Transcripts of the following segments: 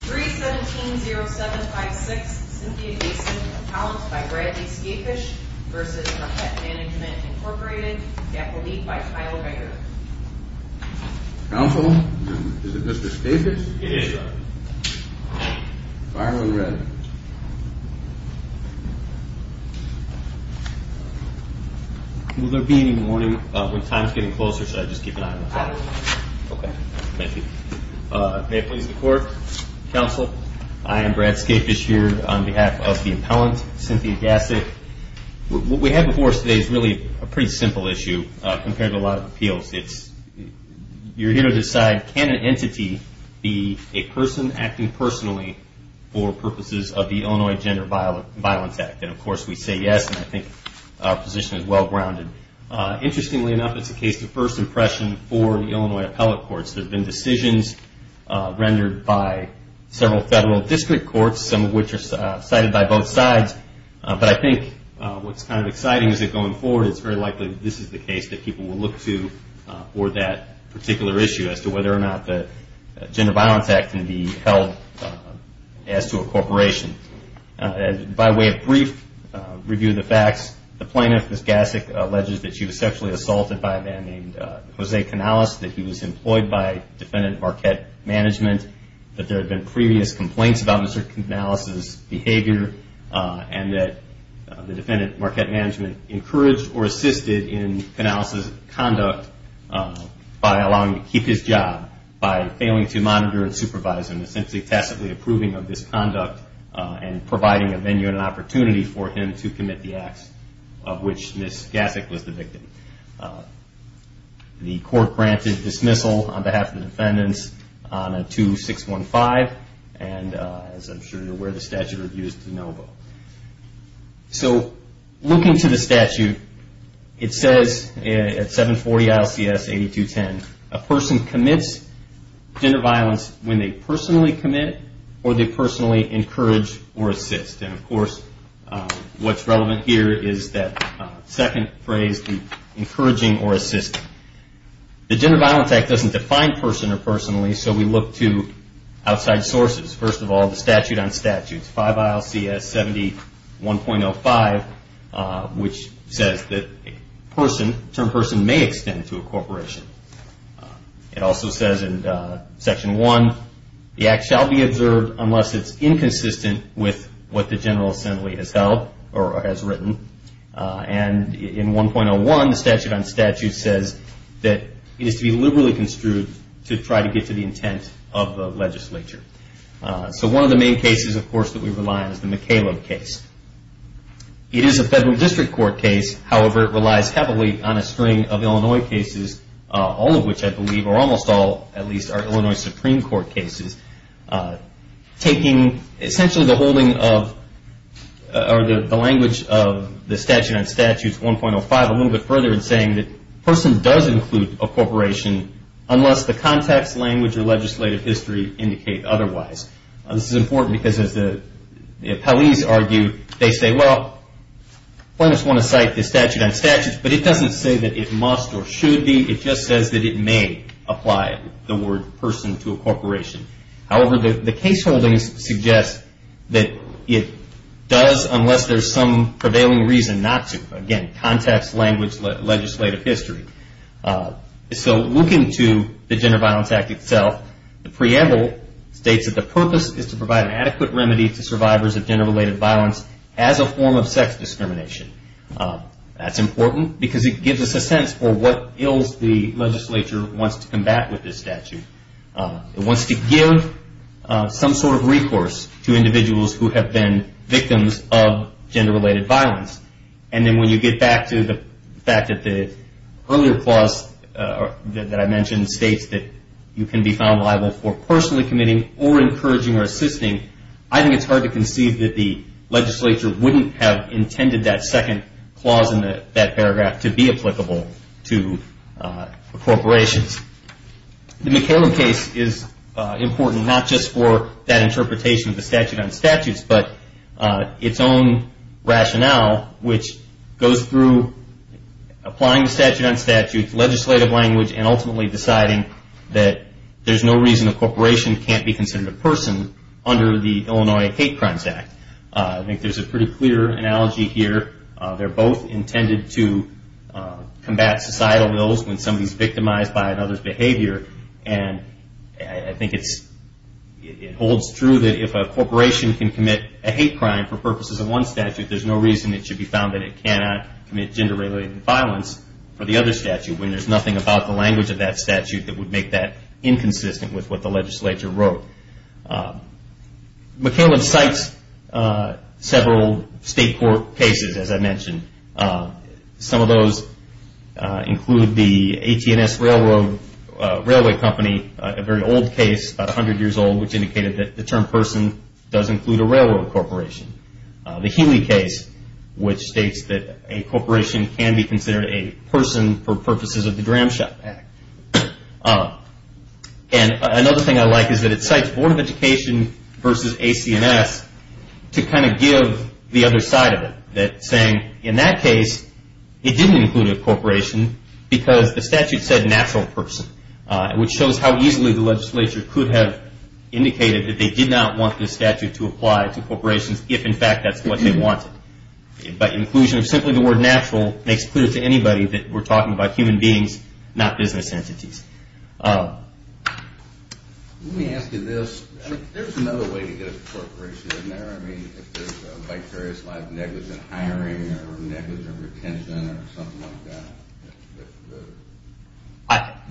3-17-0756, Cynthia Basin, accounts by Bradley Skafish v. Marquette Management Inc. Gap will lead by Kyle Renger. Counsel, is it Mr. Skafish? It is, Your Honor. Fireman Redd. Will there be any warning when time's getting closer, should I just keep an eye on the clock? Absolutely. Okay, thank you. May it please the Court. Counsel, I am Brad Skafish here on behalf of the appellant, Cynthia Gassic. What we have before us today is really a pretty simple issue compared to a lot of appeals. You're here to decide, can an entity be a person acting personally for purposes of the Illinois Gender Violence Act? And, of course, we say yes, and I think our position is well-grounded. Interestingly enough, it's a case to first impression for the Illinois Appellate Courts. There have been decisions rendered by several federal district courts, some of which are cited by both sides. But I think what's kind of exciting is that going forward, it's very likely that this is the case that people will look to for that particular issue as to whether or not the Gender Violence Act can be held as to a corporation. By way of brief review of the facts, the plaintiff, Ms. Gassic, alleges that she was sexually assaulted by a man named Jose Canales, that he was employed by Defendant Marquette Management, that there had been previous complaints about Mr. Canales' behavior, and that the Defendant Marquette Management encouraged or assisted in Canales' conduct by allowing him to keep his job, by failing to monitor and supervise him, essentially tacitly approving of this conduct and providing a venue and an opportunity for him to commit the acts of which Ms. Gassic was the victim. The court granted dismissal on behalf of the defendants on a 2-615, and as I'm sure you're aware, the statute reviews to no vote. So, looking to the statute, it says at 740 ILCS 8210, a person commits gender violence when they personally commit or they personally encourage or assist. And of course, what's relevant here is that second phrase, encouraging or assisting. The Gender Violence Act doesn't define person or personally, so we look to outside sources. First of all, the statute on statutes, 5 ILCS 71.05, which says that a person, term person, may extend to a corporation. It also says in Section 1, the act shall be observed unless it's inconsistent with what the General Assembly has held or has written. And in 1.01, the statute on statutes says that it is to be liberally construed to try to get to the intent of the legislature. So, one of the main cases, of course, that we rely on is the McCaleb case. It is a federal district court case, however, it relies heavily on a string of Illinois cases, all of which I believe, or almost all at least, are Illinois Supreme Court cases. Taking essentially the holding of, or the language of the statute on statutes 1.05 a little bit further and saying that a person does include a corporation unless the context, language, or legislative history indicate otherwise. This is important because as the appellees argue, they say, well, plaintiffs want to cite the statute on statutes, but it doesn't say that it must or should be, it just says that it may apply the word person to a corporation. However, the case holdings suggest that it does unless there's some prevailing reason not to. Again, context, language, legislative history. So, looking to the Gender Violence Act itself, the preamble states that the purpose is to provide an adequate remedy to survivors of gender-related violence as a form of sex discrimination. That's important because it gives us a sense for what ills the legislature wants to combat with this statute. It wants to give some sort of recourse to individuals who have been victims of gender-related violence. And then when you get back to the fact that the earlier clause that I mentioned states that you can be found liable for personally committing or encouraging or assisting, I think it's hard to conceive that the legislature wouldn't have intended that second clause in that paragraph to be applicable to corporations. The McCallum case is important not just for that interpretation of the statute on statutes, but its own rationale, which goes through applying the statute on statutes, legislative language, and ultimately deciding that there's no reason a corporation can't be considered a person under the Illinois Hate Crimes Act. I think there's a pretty clear analogy here. They're both intended to combat societal ills when somebody's victimized by another's behavior. And I think it holds true that if a corporation can commit a hate crime for purposes of one statute, there's no reason it should be found that it cannot commit gender-related violence for the other statute when there's nothing about the language of that statute that would make that inconsistent with what the legislature wrote. McCallum cites several state court cases, as I mentioned. Some of those include the AT&S Railway Company, a very old case, about 100 years old, which indicated that the term person does include a railroad corporation. The Healy case, which states that a corporation can be considered a person for purposes of the Dramshot Act. And another thing I like is that it cites Board of Education versus AC&S to kind of give the other side of it, saying, in that case, it didn't include a corporation because the statute said natural person, which shows how easily the legislature could have indicated that they did not want this statute to apply to corporations if, in fact, that's what they wanted. But inclusion of simply the word natural makes clear to anybody that we're talking about human beings, not business entities. Let me ask you this. There's another way to get a corporation in there. If there's a vicarious liability, negligent hiring or negligent retention or something like that.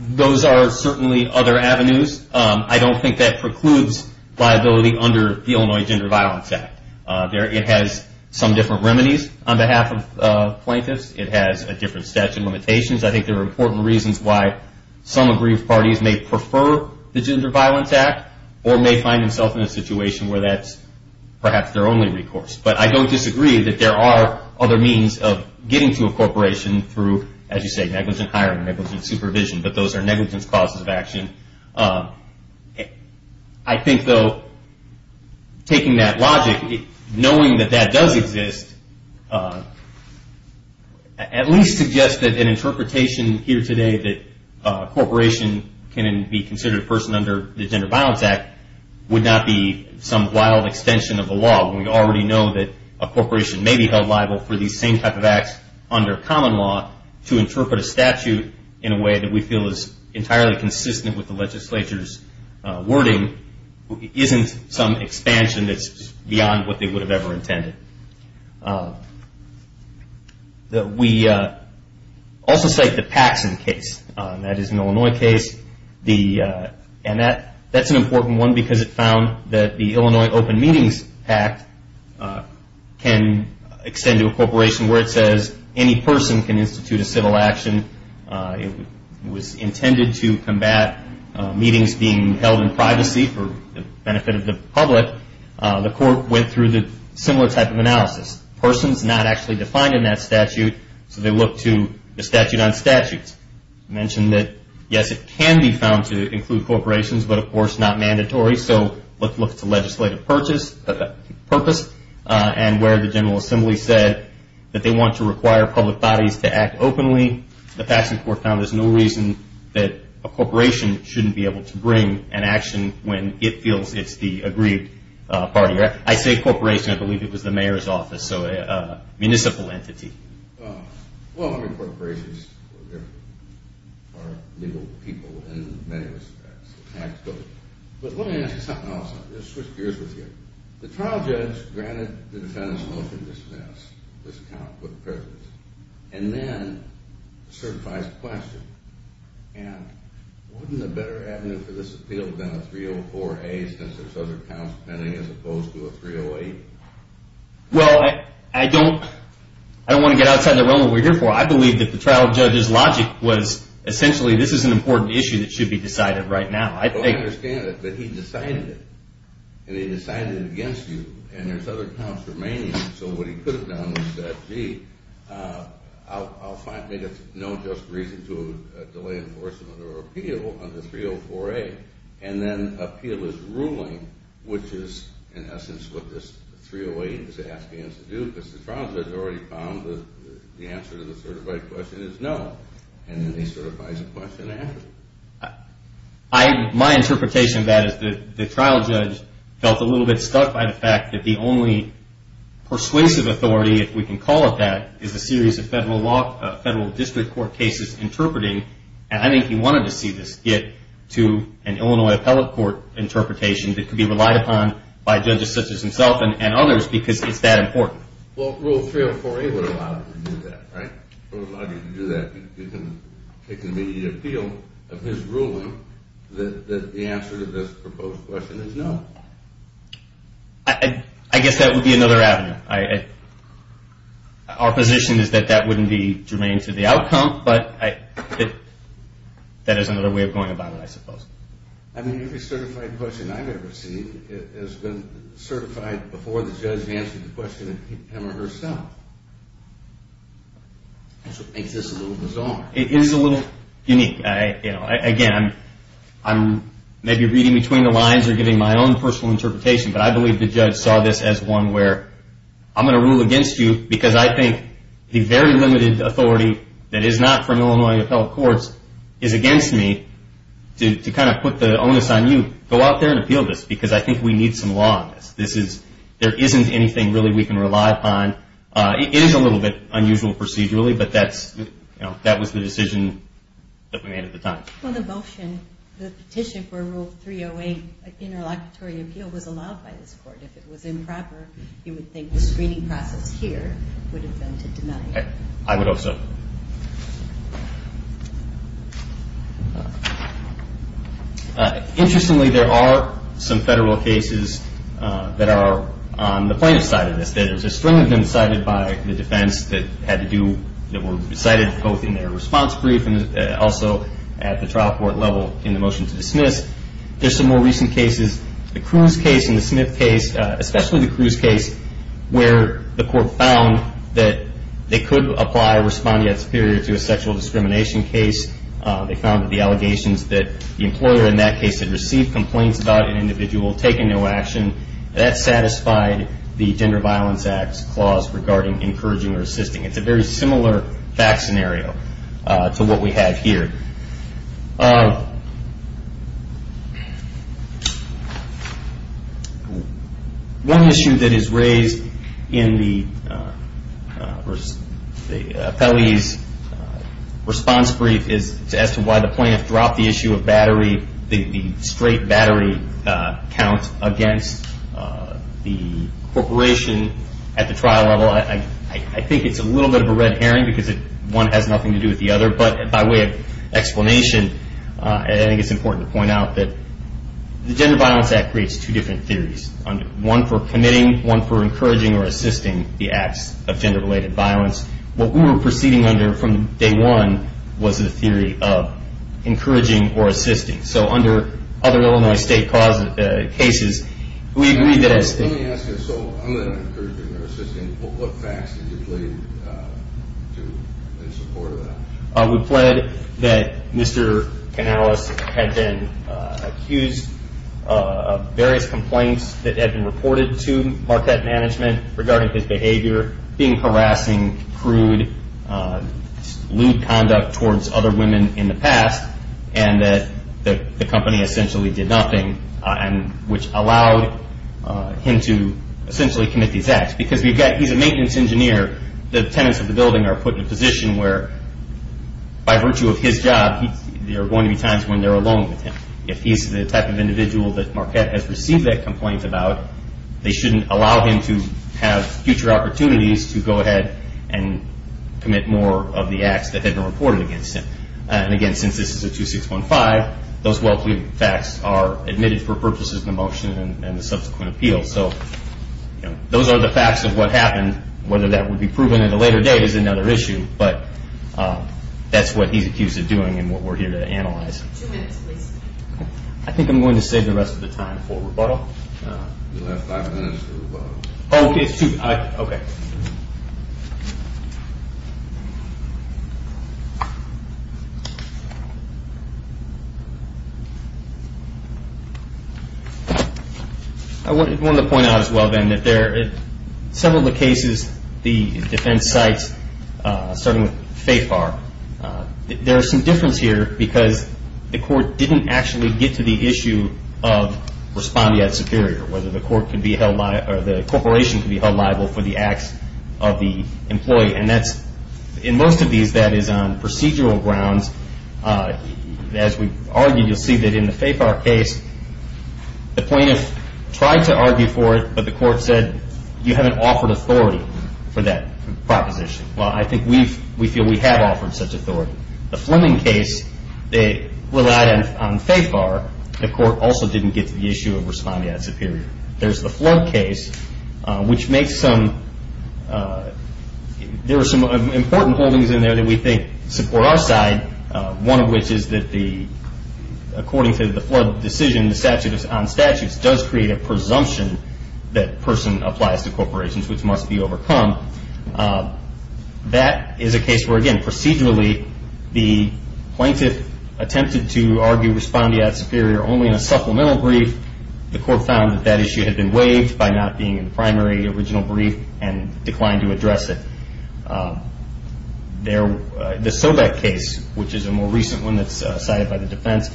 Those are certainly other avenues. I don't think that precludes liability under the Illinois Gender Violence Act. It has some different remedies on behalf of plaintiffs. It has a different statute of limitations. I think there are important reasons why some aggrieved parties may prefer the Gender Violence Act or may find themselves in a situation where that's perhaps their only recourse. But I don't disagree that there are other means of getting to a corporation through, as you say, negligent hiring, negligent supervision, but those are negligence causes of action. I think, though, taking that logic, knowing that that does exist, at least suggests that an interpretation here today that a corporation can be considered a person under the Gender Violence Act would not be some wild extension of the law. We already know that a corporation may be held liable for these same type of acts under common law to interpret a statute in a way that we feel is entirely consistent with the legislature's wording isn't some expansion that's beyond what they would have ever intended. We also cite the Paxson case. That is an Illinois case. That's an important one because it found that the Illinois Open Meetings Act can extend to a corporation where it says any person can institute a civil action. It was intended to combat meetings being held in privacy for the benefit of the public. The court went through the similar type of analysis. A person is not actually defined in that statute, so they look to the statute on statutes. I mentioned that, yes, it can be found to include corporations, but of course not mandatory, so let's look to legislative purpose and where the General Assembly said that they want to require public bodies to act openly. The Paxson court found there's no reason that a corporation shouldn't be able to bring an action when it feels it's the agreed party. I say corporation. I believe it was the mayor's office, so a municipal entity. Well, I mean, corporations are legal people in many respects. But let me ask you something else. Let's switch gears with you. The trial judge granted the defendant's motion to dismiss this account with the presence and then certifies question, and wouldn't a better avenue for this appeal have been a 304A since there's other accounts pending as opposed to a 308? Well, I don't want to get outside the realm of what we're here for. I believe that the trial judge's logic was essentially this is an important issue that should be decided right now. Well, I understand it, but he decided it, and he decided it against you, and there's other accounts remaining, so what he could have done was said, gee, I'll find no just reason to delay enforcement or appeal under 304A, and then appeal his ruling, which is in essence what this 308 is asking us to do because the trial judge already found that the answer to the certified question is no, and then he certifies the question after. My interpretation of that is the trial judge felt a little bit stuck by the fact that the only persuasive authority, if we can call it that, is a series of federal district court cases interpreting, and I think he wanted to see this get to an Illinois appellate court interpretation that could be relied upon by judges such as himself and others because it's that important. Well, rule 304A would allow you to do that, right? It would allow you to do that. It can be the appeal of his ruling that the answer to this proposed question is no. I guess that would be another avenue. Our position is that that wouldn't be germane to the outcome, but that is another way of going about it, I suppose. I mean, every certified question I've ever seen has been certified before the judge answered the question him or herself. Which makes this a little bizarre. It is a little unique. Again, I'm maybe reading between the lines or giving my own personal interpretation, but I believe the judge saw this as one where I'm going to rule against you because I think the very limited authority that is not from Illinois appellate courts is against me to kind of put the onus on you to go out there and appeal this because I think we need some law on this. There isn't anything really we can rely upon. It is a little bit unusual procedurally, but that was the decision that we made at the time. Well, the motion, the petition for rule 308 interlocutory appeal was allowed by this court. If it was improper, you would think the screening process here would have been to deny it. I would hope so. Interestingly, there are some federal cases that are on the plaintiff's side of this. There's a string of them cited by the defense that were cited both in their response brief and also at the trial court level in the motion to dismiss. There's some more recent cases, the Cruz case and the Smith case, especially the Cruz case where the court found that they could apply responding as superior to a sexual discrimination case. They found that the allegations that the employer in that case had received complaints about an individual taking no action, that satisfied the Gender Violence Act's clause regarding encouraging or assisting. It's a very similar fact scenario to what we have here. One issue that is raised in the appellee's response brief is as to why the plaintiff dropped the issue of battery, the straight battery count against the corporation at the trial level. I think it's a little bit of a red herring because one has nothing to do with the other. By way of explanation, I think it's important to point out that the Gender Violence Act creates two different theories. One for committing, one for encouraging or assisting the acts of gender-related violence. What we were proceeding under from day one was the theory of encouraging or assisting. So under other Illinois state cases, we agreed that it's… Let me ask you, so other than encouraging or assisting, what facts did you plead in support of that? We pled that Mr. Canales had been accused of various complaints that had been reported to Marquette Management regarding his behavior, being harassing, crude, lewd conduct towards other women in the past, and that the company essentially did nothing, which allowed him to essentially commit these acts. Because he's a maintenance engineer, the tenants of the building are put in a position where by virtue of his job, there are going to be times when they're alone with him. If he's the type of individual that Marquette has received that complaint about, they shouldn't allow him to have future opportunities to go ahead and commit more of the acts that have been reported against him. And again, since this is a 2615, those well-pleaded facts are admitted for purposes of the motion and the subsequent appeal. So those are the facts of what happened. Whether that would be proven at a later date is another issue, but that's what he's accused of doing and what we're here to analyze. Two minutes, please. I think I'm going to save the rest of the time for rebuttal. You have five minutes for rebuttal. Oh, okay. I wanted to point out as well, then, that several of the cases, the defense sites, starting with Faith Bar, there is some difference here because the court didn't actually get to the issue of responding as superior, whether the corporation could be held liable for the acts of the employee. And in most of these, that is on procedural grounds. As we argue, you'll see that in the Faith Bar case, the plaintiff tried to argue for it, but the court said you haven't offered authority for that proposition. Well, I think we feel we have offered such authority. The Fleming case, they relied on Faith Bar. The court also didn't get to the issue of responding as superior. There's the Flood case, which makes some important holdings in there that we think support our side, one of which is that according to the Flood decision, the statute on statutes does create a presumption that a person applies to corporations, which must be overcome. That is a case where, again, procedurally, the plaintiff attempted to argue responding as superior only in a supplemental brief. The court found that that issue had been waived by not being in the primary original brief and declined to address it. The Sobeck case, which is a more recent one that's cited by the defense,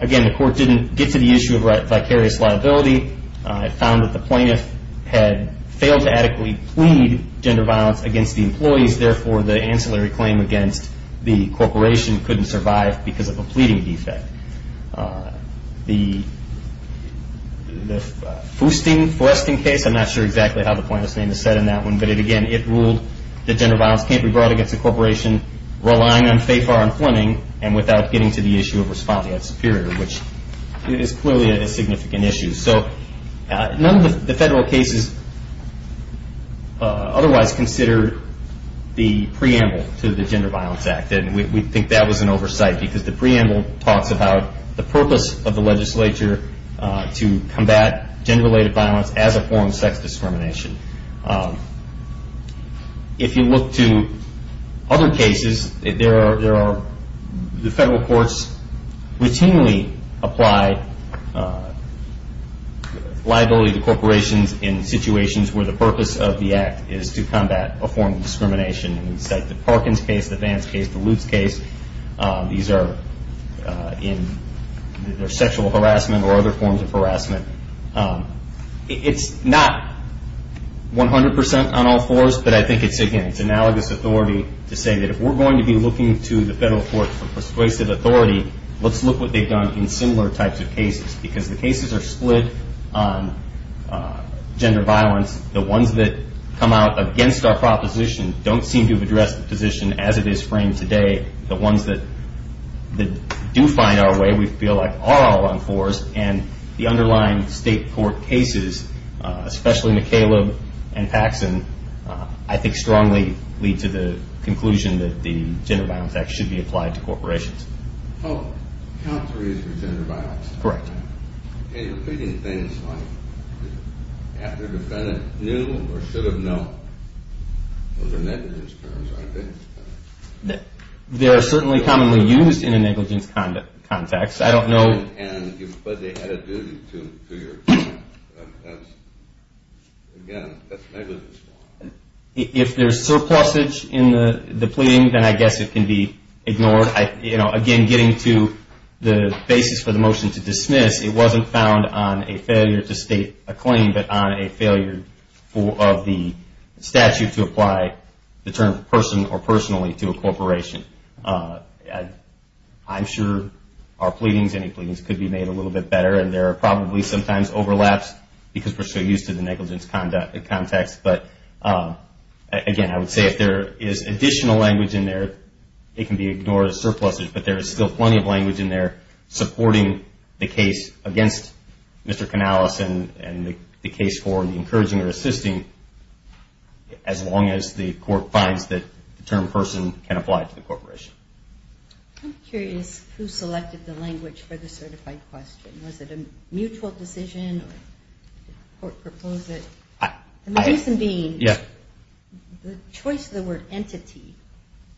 again, the court didn't get to the issue of vicarious liability. It found that the plaintiff had failed to adequately plead gender violence against the employees. Therefore, the ancillary claim against the corporation couldn't survive because of a pleading defect. The Foosting-Foresting case, I'm not sure exactly how the plaintiff's name is said in that one, but, again, it ruled that gender violence can't be brought against a corporation relying on Faith Bar and Fleming and without getting to the issue of responding as superior, which is clearly a significant issue. So none of the federal cases otherwise considered the preamble to the Gender Violence Act, and we think that was an oversight because the preamble talks about the purpose of the legislature to combat gender-related violence as a form of sex discrimination. If you look to other cases, the federal courts routinely apply liability to corporations in situations where the purpose of the act is to combat a form of discrimination. We cite the Parkins case, the Vance case, the Lutz case. These are in their sexual harassment or other forms of harassment. It's not 100 percent on all fours, but I think it's, again, it's analogous authority to say that if we're going to be looking to the federal courts for persuasive authority, let's look what they've done in similar types of cases because the cases are split on gender violence. The ones that come out against our proposition don't seem to have addressed the position as it is framed today. The ones that do find our way we feel like are all on fours, and the underlying state court cases, especially McCaleb and Paxson, I think strongly lead to the conclusion that the Gender Violence Act should be applied to corporations. Oh, count three is for gender violence. Correct. Are you repeating things like after defendant knew or should have known? Those are negligence terms, aren't they? They are certainly commonly used in a negligence context. I don't know. And because they had a duty to your client, that's, again, that's negligence. If there's surplusage in the pleading, then I guess it can be ignored. I guess it wasn't found on a failure to state a claim, but on a failure of the statute to apply the term person or personally to a corporation. I'm sure our pleadings, any pleadings, could be made a little bit better, and there are probably sometimes overlaps because we're so used to the negligence context. But, again, I would say if there is additional language in there, it can be ignored as surplusage, but there is still plenty of language in there supporting the case against Mr. Canales and the case for encouraging or assisting as long as the court finds that the term person can apply to the corporation. I'm curious who selected the language for the certified question. Was it a mutual decision or did the court propose it? The reason being the choice of the word entity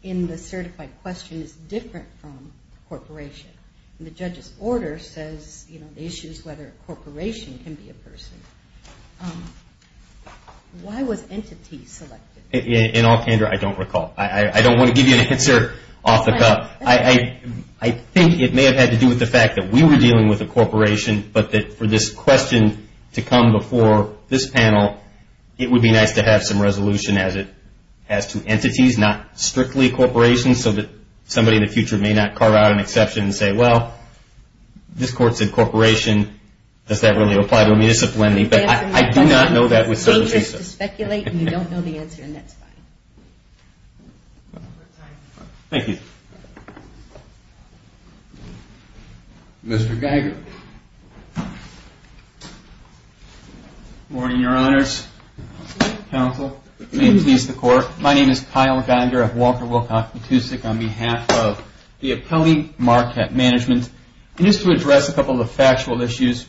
in the certified question is different from corporation. The judge's order says the issue is whether a corporation can be a person. Why was entity selected? In all candor, I don't recall. I don't want to give you an answer off the cuff. I think it may have had to do with the fact that we were dealing with a corporation, but that for this question to come before this panel, it would be nice to have some resolution as to entities, not strictly corporations, so that somebody in the future may not carve out an exception and say, well, this court said corporation. Does that really apply to a municipality? But I do not know that with certain cases. Take this to speculate, and you don't know the answer, and that's fine. Thank you. Thank you. Mr. Geiger. Good morning, Your Honors. Counsel. May it please the Court. My name is Kyle Geiger. I'm Walter Wilcock Matusik on behalf of the appellee market management. And just to address a couple of the factual issues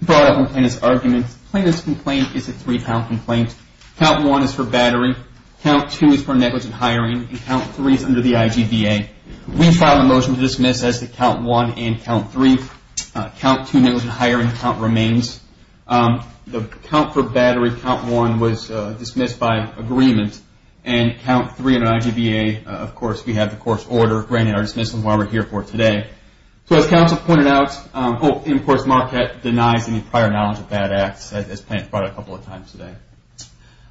brought up in this argument, plaintiff's complaint is a three-pound complaint. Count one is for battery. Count two is for negligent hiring. And count three is under the IGBA. We filed a motion to dismiss as to count one and count three. Count two, negligent hiring. Count remains. The count for battery, count one, was dismissed by agreement. And count three under IGBA, of course, we have the court's order. Granted, our dismissal is why we're here for today. So as counsel pointed out, and, of course, Marquette denies any prior knowledge of that act, as plaintiff brought up a couple of times today.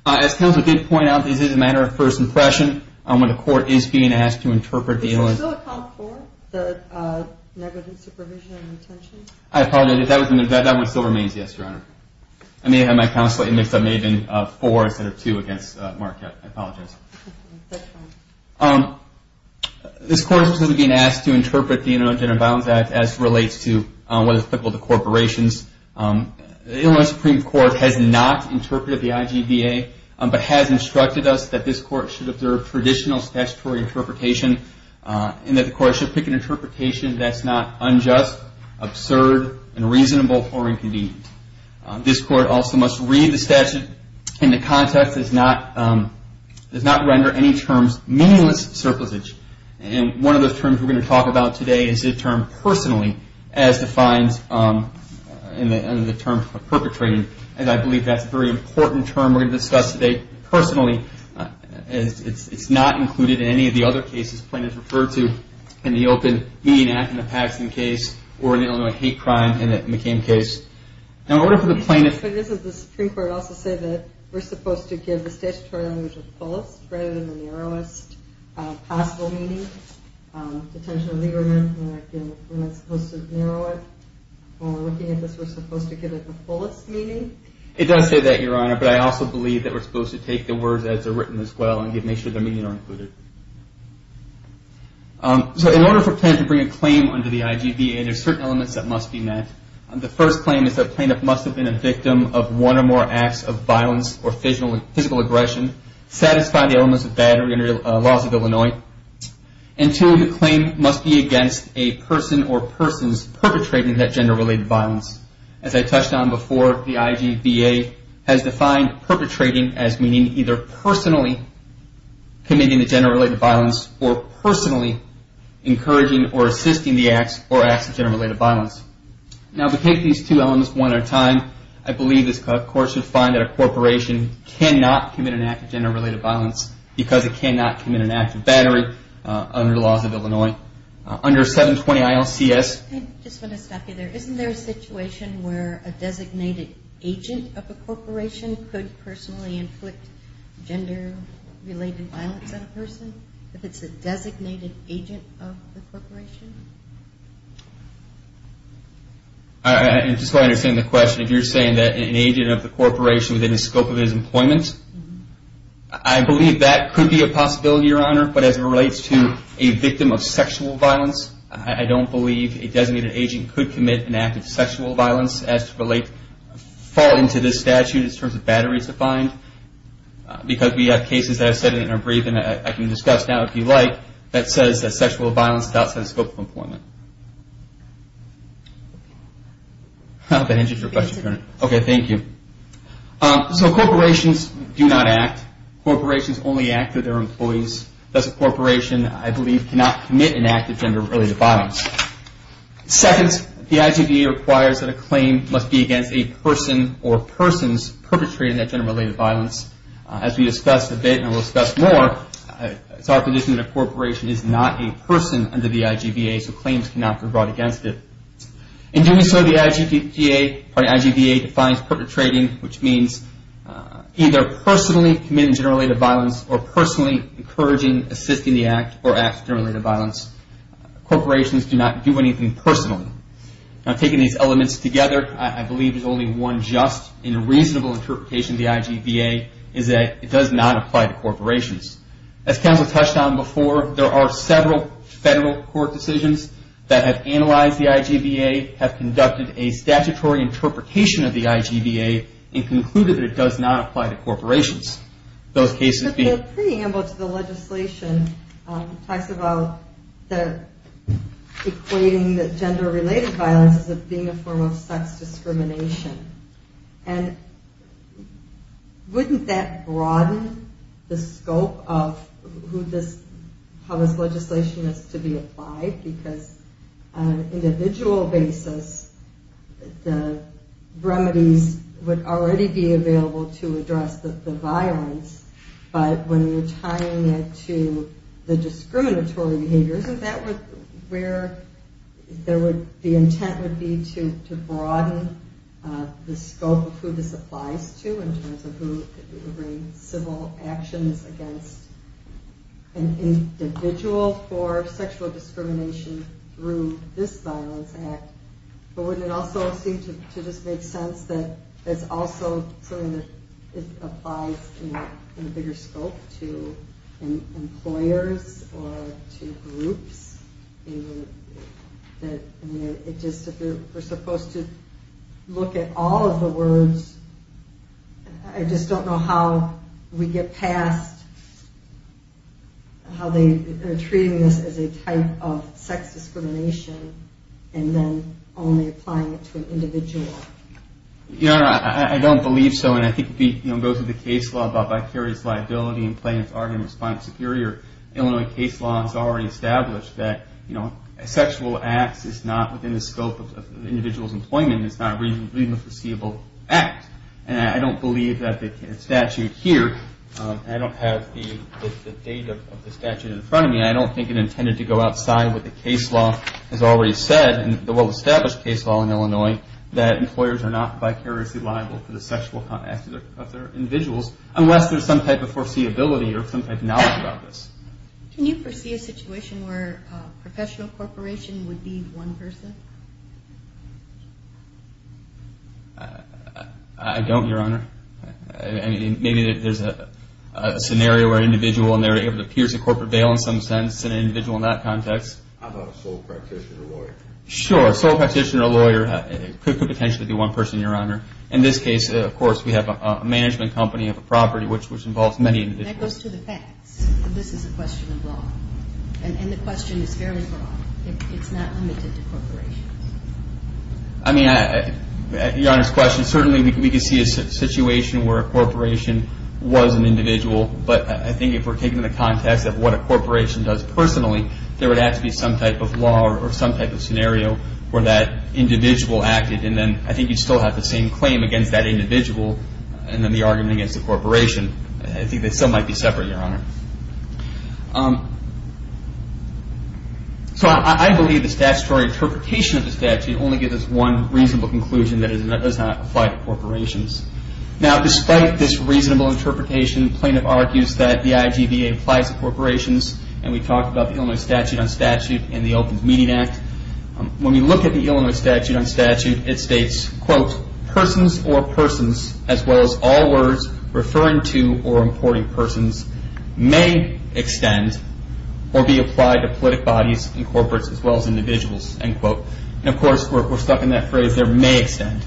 As counsel did point out, this is a matter of first impression. When the court is being asked to interpret the illness. Does it still account for the negligent supervision and retention? I apologize. That one still remains, yes, Your Honor. I may have had my counsel mixed up. It may have been four instead of two against Marquette. I apologize. That's fine. This court is specifically being asked to interpret the Internal Gender and Violence Act as it relates to whether it's applicable to corporations. The Illinois Supreme Court has not interpreted the IGBA, but has instructed us that this court should observe traditional statutory interpretation and that the court should pick an interpretation that's not unjust, absurd, unreasonable, or inconvenient. This court also must read the statute in the context does not render any terms meaningless surplusage. And one of those terms we're going to talk about today is the term personally, as defined in the terms of perpetrating. And I believe that's a very important term we're going to discuss today. Personally, it's not included in any of the other cases plaintiffs referred to in the Open Meeting Act in the Paxton case or in the Illinois hate crime in the McCain case. Now, in order for the plaintiff. But doesn't the Supreme Court also say that we're supposed to give the statutory language of fullest rather than the narrowest possible meaning? Detention of the ignorant, we're not supposed to narrow it. Well, looking at this, we're supposed to give it the fullest meaning? It does say that, Your Honor. But I also believe that we're supposed to take the words as they're written as well and make sure their meaning are included. So in order for a plaintiff to bring a claim under the IGBA, there are certain elements that must be met. The first claim is that a plaintiff must have been a victim of one or more acts of violence or physical aggression, satisfy the elements of battery under the laws of Illinois. And two, the claim must be against a person or persons perpetrating that gender-related violence. As I touched on before, the IGBA has defined perpetrating as meaning either personally committing the gender-related violence or personally encouraging or assisting the acts or acts of gender-related violence. Now, if we take these two elements one at a time, I believe this Court should find that a corporation cannot commit an act of gender-related violence because it cannot commit an act of battery under the laws of Illinois. Under 720-ILCS. I just want to stop you there. Isn't there a situation where a designated agent of a corporation could personally inflict gender-related violence on a person if it's a designated agent of the corporation? Just so I understand the question, if you're saying that an agent of the corporation within the scope of his employment, I believe that could be a possibility, Your Honor. But as it relates to a victim of sexual violence, I don't believe a designated agent could commit an act of sexual violence as to fall into this statute in terms of batteries defined. Because we have cases that I've said in our brief, and I can discuss now if you like, that says that sexual violence is outside the scope of employment. I hope that answers your question, Your Honor. Okay, thank you. So corporations do not act. Corporations only act if they're employees. Thus, a corporation, I believe, cannot commit an act of gender-related violence. Second, the IGVA requires that a claim must be against a person or persons perpetrating that gender-related violence. As we discussed a bit, and we'll discuss more, it's our position that a corporation is not a person under the IGVA, so claims cannot be brought against it. In doing so, the IGVA defines perpetrating, which means either personally committing gender-related violence or personally encouraging, assisting the act or acts of gender-related violence. Corporations do not do anything personally. Now, taking these elements together, I believe there's only one just and reasonable interpretation of the IGVA, is that it does not apply to corporations. As counsel touched on before, there are several federal court decisions that have analyzed the IGVA, have conducted a statutory interpretation of the IGVA, and concluded that it does not apply to corporations. Those cases being... But the preamble to the legislation talks about equating the gender-related violence as being a form of sex discrimination. And wouldn't that broaden the scope of how this legislation is to be applied? Because on an individual basis, the remedies would already be available to address the violence, but when you're tying it to the discriminatory behaviors, isn't that where the intent would be to broaden the scope of who this applies to in terms of who would bring civil actions against an individual for sexual discrimination through this violence act? But wouldn't it also seem to just make sense that it's also something that applies in a bigger scope to employers or to groups? If we're supposed to look at all of the words, I just don't know how we get past how they are treating this as a type of sex discrimination, and then only applying it to an individual. I don't believe so, and I think it goes with the case law about vicarious liability and plaintiff's argument of spine superiority. Illinois case law has already established that sexual acts is not within the scope of an individual's employment. It's not really a foreseeable act. And I don't believe that the statute here, and I don't have the date of the statute in front of me, I don't think it intended to go outside what the case law has already said, and the well-established case law in Illinois, that employers are not vicariously liable for the sexual acts of their individuals unless there's some type of foreseeability or some type of knowledge about this. Can you foresee a situation where a professional corporation would be one person? I don't, Your Honor. Maybe there's a scenario where an individual and they're able to pierce a corporate veil in some sense, an individual in that context. How about a sole practitioner or lawyer? Sure, a sole practitioner or lawyer could potentially be one person, Your Honor. In this case, of course, we have a management company of a property, which involves many individuals. That goes to the facts. This is a question of law. And the question is fairly broad. It's not limited to corporations. I mean, Your Honor's question, certainly we could see a situation where a corporation was an individual, but I think if we're taking the context of what a corporation does personally, there would have to be some type of law or some type of scenario where that individual acted, and then I think you'd still have the same claim against that individual and then the argument against the corporation. I think they still might be separate, Your Honor. So I believe the statutory interpretation of the statute only gives us one reasonable conclusion, that it does not apply to corporations. Now, despite this reasonable interpretation, plaintiff argues that the IGBA applies to corporations, and we talked about the Illinois Statute on Statute and the Open Meeting Act. When we look at the Illinois Statute on Statute, it states, quote, persons or persons, as well as all words referring to or importing persons, may extend or be applied to politic bodies and corporates as well as individuals, end quote. And, of course, we're stuck in that phrase there, may extend.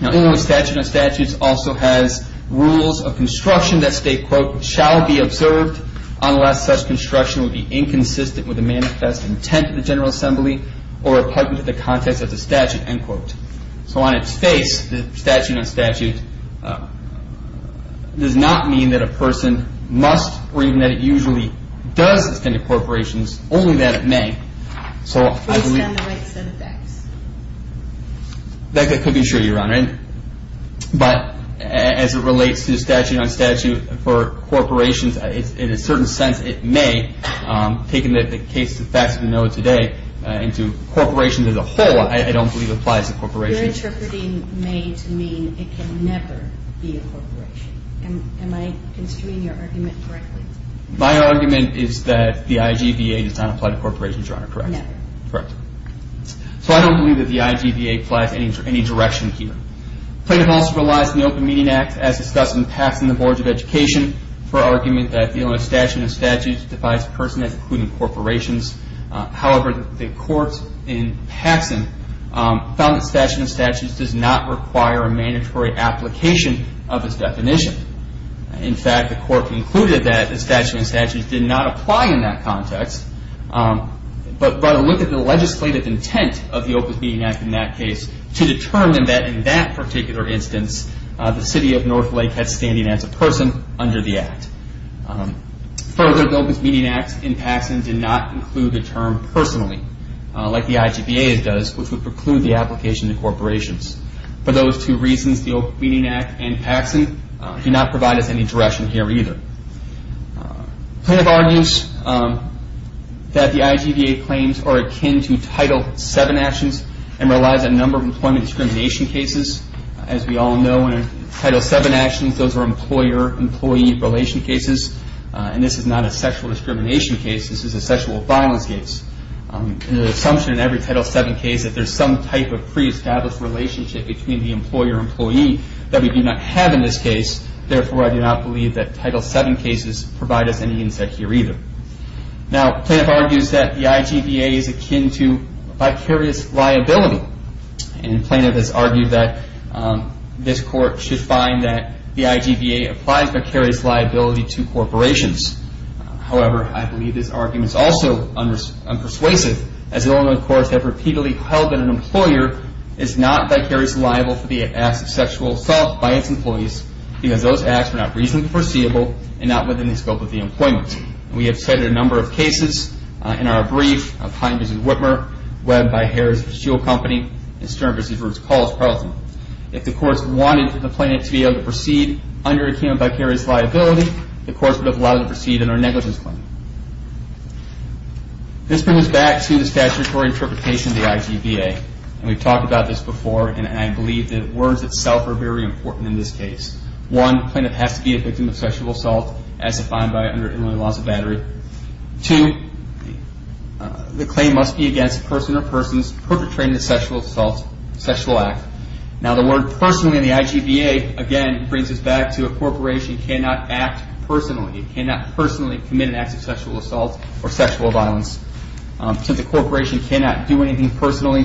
Now, Illinois Statute on Statutes also has rules of construction that state, quote, shall be observed unless such construction would be inconsistent with the manifest intent of the General Assembly or applicable to the context of the statute, end quote. So on its face, the statute on statute does not mean that a person must or even that it usually does extend to corporations, only that it may. So I believe- Based on the right set of facts. That could be true, Your Honor. But as it relates to statute on statute for corporations, in a certain sense it may, taking the case of the facts of the note today into corporations as a whole, I don't believe it applies to corporations. You're interpreting may to mean it can never be a corporation. Am I construing your argument correctly? My argument is that the IGBA does not apply to corporations, Your Honor. Correct? No. Correct. So I don't believe that the IGBA applies to any direction here. Plaintiff also relies on the Open Meeting Act, as discussed in Paxson, the Boards of Education, for argument that the statute on statutes defies a person including corporations. However, the court in Paxson found that statute on statutes does not require a mandatory application of its definition. In fact, the court concluded that the statute on statutes did not apply in that context, but by the look of the legislative intent of the Open Meeting Act in that case to determine that in that particular instance, the city of Northlake had standing as a person under the act. Further, the Open Meeting Act in Paxson did not include the term personally, like the IGBA does, which would preclude the application to corporations. For those two reasons, the Open Meeting Act and Paxson do not provide us any direction here either. Plaintiff argues that the IGBA claims are akin to Title VII actions and relies on a number of employment discrimination cases. As we all know, in Title VII actions, those are employer-employee relation cases, and this is not a sexual discrimination case. This is a sexual violence case. The assumption in every Title VII case is that there is some type of pre-established relationship between the employer-employee that we do not have in this case. Therefore, I do not believe that Title VII cases provide us any insight here either. Now, Plaintiff argues that the IGBA is akin to vicarious liability, and Plaintiff has argued that this Court should find that the IGBA applies vicarious liability to corporations. However, I believe this argument is also unpersuasive, as Illinois courts have repeatedly held that an employer is not vicariously liable for the acts of sexual assault by its employees because those acts were not reasonably foreseeable and not within the scope of the employment. We have cited a number of cases in our brief of Hines v. Whitmer, Webb v. Harris Steel Company, and Stern v. Brooks College Parliament. If the courts wanted the Plaintiff to be able to proceed under akin to vicarious liability, the courts would have allowed it to proceed under a negligence claim. This brings us back to the statutory interpretation of the IGBA, and we've talked about this before, and I believe that words itself are very important in this case. One, the Plaintiff has to be a victim of sexual assault as defined by under Illinois laws of battery. Two, the claim must be against a person or persons perpetrated in a sexual assault, sexual act. Now, the word personally in the IGBA, again, brings us back to a corporation cannot act personally. It cannot personally commit an act of sexual assault or sexual violence. Since a corporation cannot do anything personally,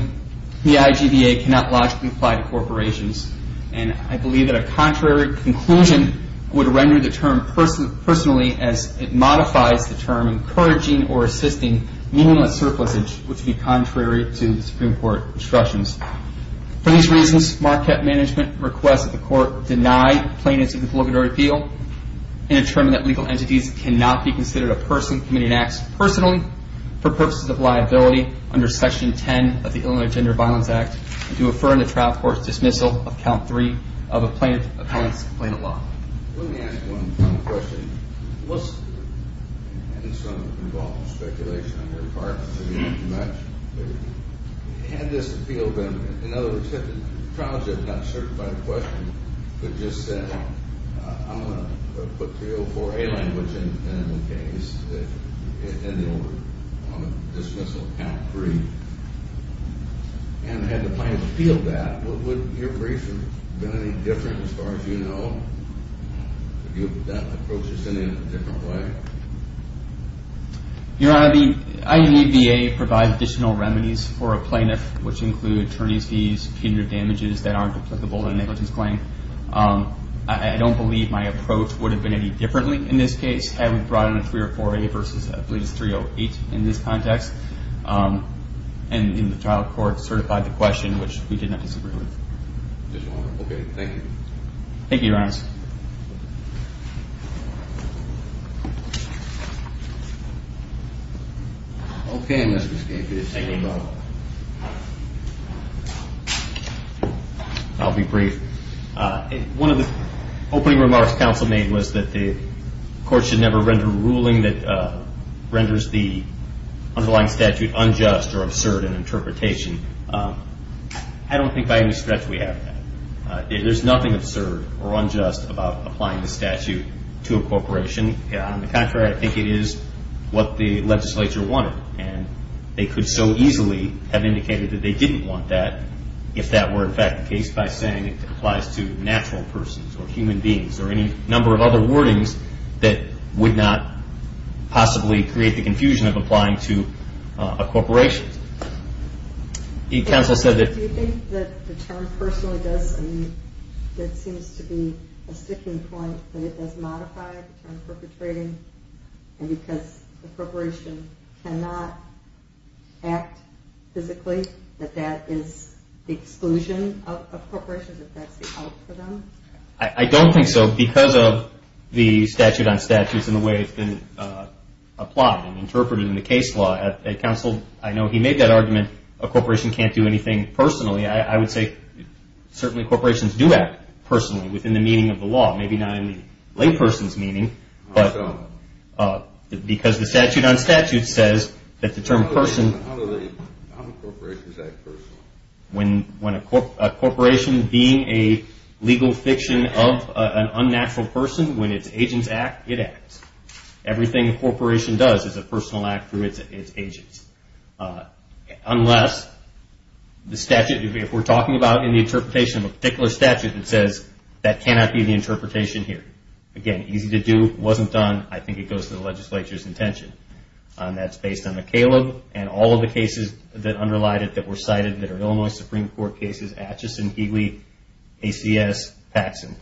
the IGBA cannot logically apply to corporations, and I believe that a contrary conclusion would render the term personally as it modifies the term encouraging or assisting meaningless surplusage, which would be contrary to the Supreme Court instructions. For these reasons, Marquette Management requests that the court deny plaintiff's obligatory appeal and determine that legal entities cannot be considered a person committing acts personally for purposes of liability under Section 10 of the Illinois Gender and Violence Act and to affirm the trial court's dismissal of count three of a plaintiff's complaint of law. Let me ask one final question. Was there any sort of involvement or speculation on your part? Had this appeal been, in other words, had the trial judge not certified the question, but just said, I'm going to put 304A language in the case, that it ended over on a dismissal of count three, and had the plaintiff appealed that, would your brief have been any different as far as you know? Would that approach have been in a different way? Your Honor, the IGBA provides additional remedies for a plaintiff, which include attorney's fees, punitive damages that aren't applicable in a negligence claim. I don't believe my approach would have been any differently in this case had we brought in a 304A versus, I believe, a 308 in this context. And the trial court certified the question, which we did not disagree with. Okay, thank you. Thank you, Your Honor. Okay, Mr. Scapegood. Thank you, Your Honor. I'll be brief. One of the opening remarks counsel made was that the court should never render a ruling that renders the underlying statute unjust or absurd in interpretation. I don't think by any stretch we have that. There's nothing absurd or unjust about applying the statute to a corporation. On the contrary, I think it is what the legislature wanted, and they could so easily have indicated that they didn't want that if that were in fact the case by saying it applies to natural persons or human beings or any number of other wordings that would not possibly create the confusion of applying to a corporation. Do you think that the term personally does seem to be a sticking point, that it does modify the term perpetrating, and because the corporation cannot act physically, that that is the exclusion of corporations, that that's the out for them? I don't think so. Because of the statute on statutes and the way it's been applied and interpreted in the case law, counsel, I know he made that argument a corporation can't do anything personally. I would say certainly corporations do act personally within the meaning of the law, maybe not in the layperson's meaning, but because the statute on statutes says that the term person... How do corporations act personally? When a corporation being a legal fiction of an unnatural person, when its agents act, it acts. Everything a corporation does is a personal act through its agents. Unless the statute, if we're talking about in the interpretation of a particular statute that says that cannot be the interpretation here. Again, easy to do, wasn't done, I think it goes to the legislature's intention. That's based on the Caleb and all of the cases that underlie it that were cited that are Illinois Supreme Court cases, Atchison, Healy, ACS, Paxson.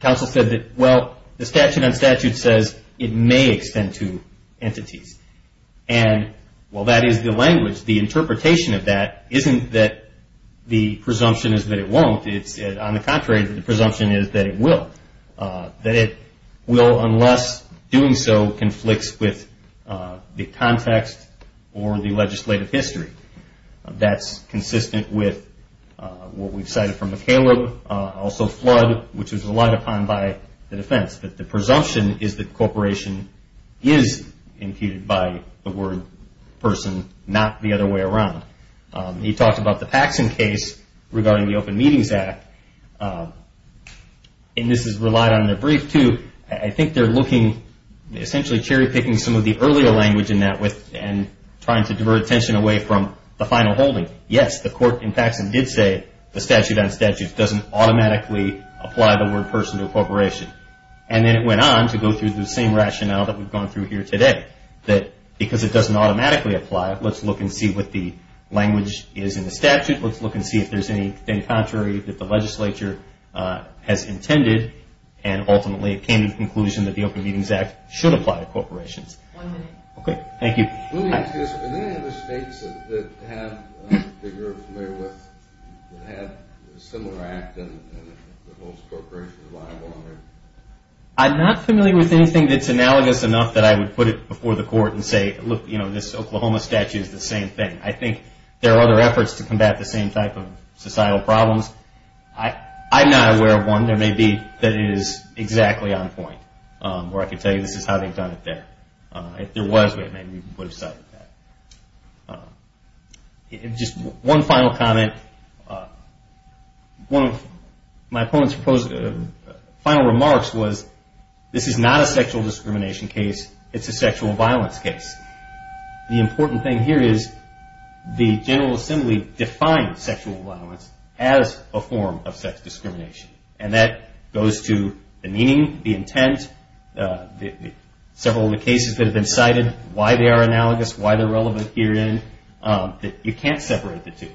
Counsel said that, well, the statute on statutes says it may extend to entities. And while that is the language, the interpretation of that isn't that the presumption is that it won't. On the contrary, the presumption is that it will. That it will unless doing so conflicts with the context or the legislative history. That's consistent with what we've cited from the Caleb, also flood, which was relied upon by the defense. But the presumption is that the corporation is impeded by the word person, not the other way around. He talked about the Paxson case regarding the Open Meetings Act. And this is relied on in the brief, too. I think they're looking, essentially cherry picking some of the earlier language in that and trying to divert attention away from the final holding. Yes, the court in Paxson did say the statute on statutes doesn't automatically apply the word person to a corporation. And then it went on to go through the same rationale that we've gone through here today. That because it doesn't automatically apply, let's look and see what the language is in the statute. Let's look and see if there's anything contrary that the legislature has intended. And ultimately, it came to the conclusion that the Open Meetings Act should apply to corporations. One minute. Okay, thank you. I'm not familiar with anything that's analogous enough that I would put it before the court and say, look, this Oklahoma statute is the same thing. I think there are other efforts to combat the same type of societal problems. I'm not aware of one. There may be that it is exactly on point. Or I could tell you this is how they've done it there. If there was, maybe we would have settled that. Just one final comment. One of my opponent's final remarks was, this is not a sexual discrimination case. It's a sexual violence case. The important thing here is the General Assembly defines sexual violence as a form of sex discrimination. And that goes to the meaning, the intent, several of the cases that have been cited, why they are analogous, why they're relevant herein. You can't separate the two.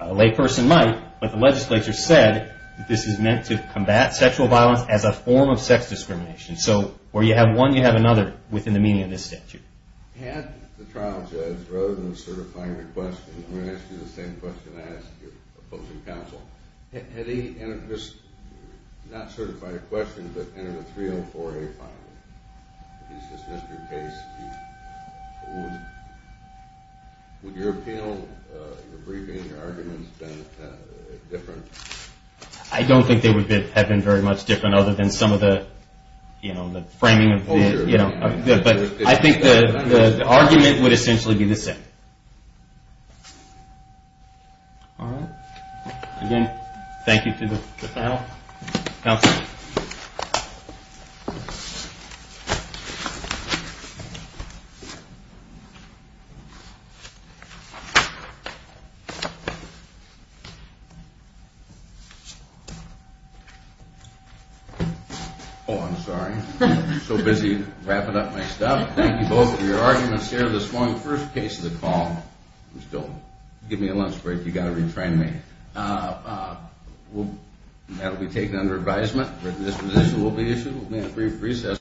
A layperson might, but the legislature said this is meant to combat sexual violence as a form of sex discrimination. So where you have one, you have another within the meaning of this statute. Had the trial judge, rather than certifying your question, I'm going to ask you the same question I asked your opposing counsel. Had he entered this, not certified a question, but entered a 304A file? If he's dismissed your case, would your appeal, your briefing, your arguments been different? I don't think they would have been very much different other than some of the framing. But I think the argument would essentially be the same. Again, thank you to the panel. Oh, I'm sorry. I'm so busy wrapping up my stuff. Thank you both for your arguments here this morning. First case of the call. Give me a lunch break. You've got to retrain me. That will be taken under advisement. Written disposition will be issued. We'll be in a brief recess.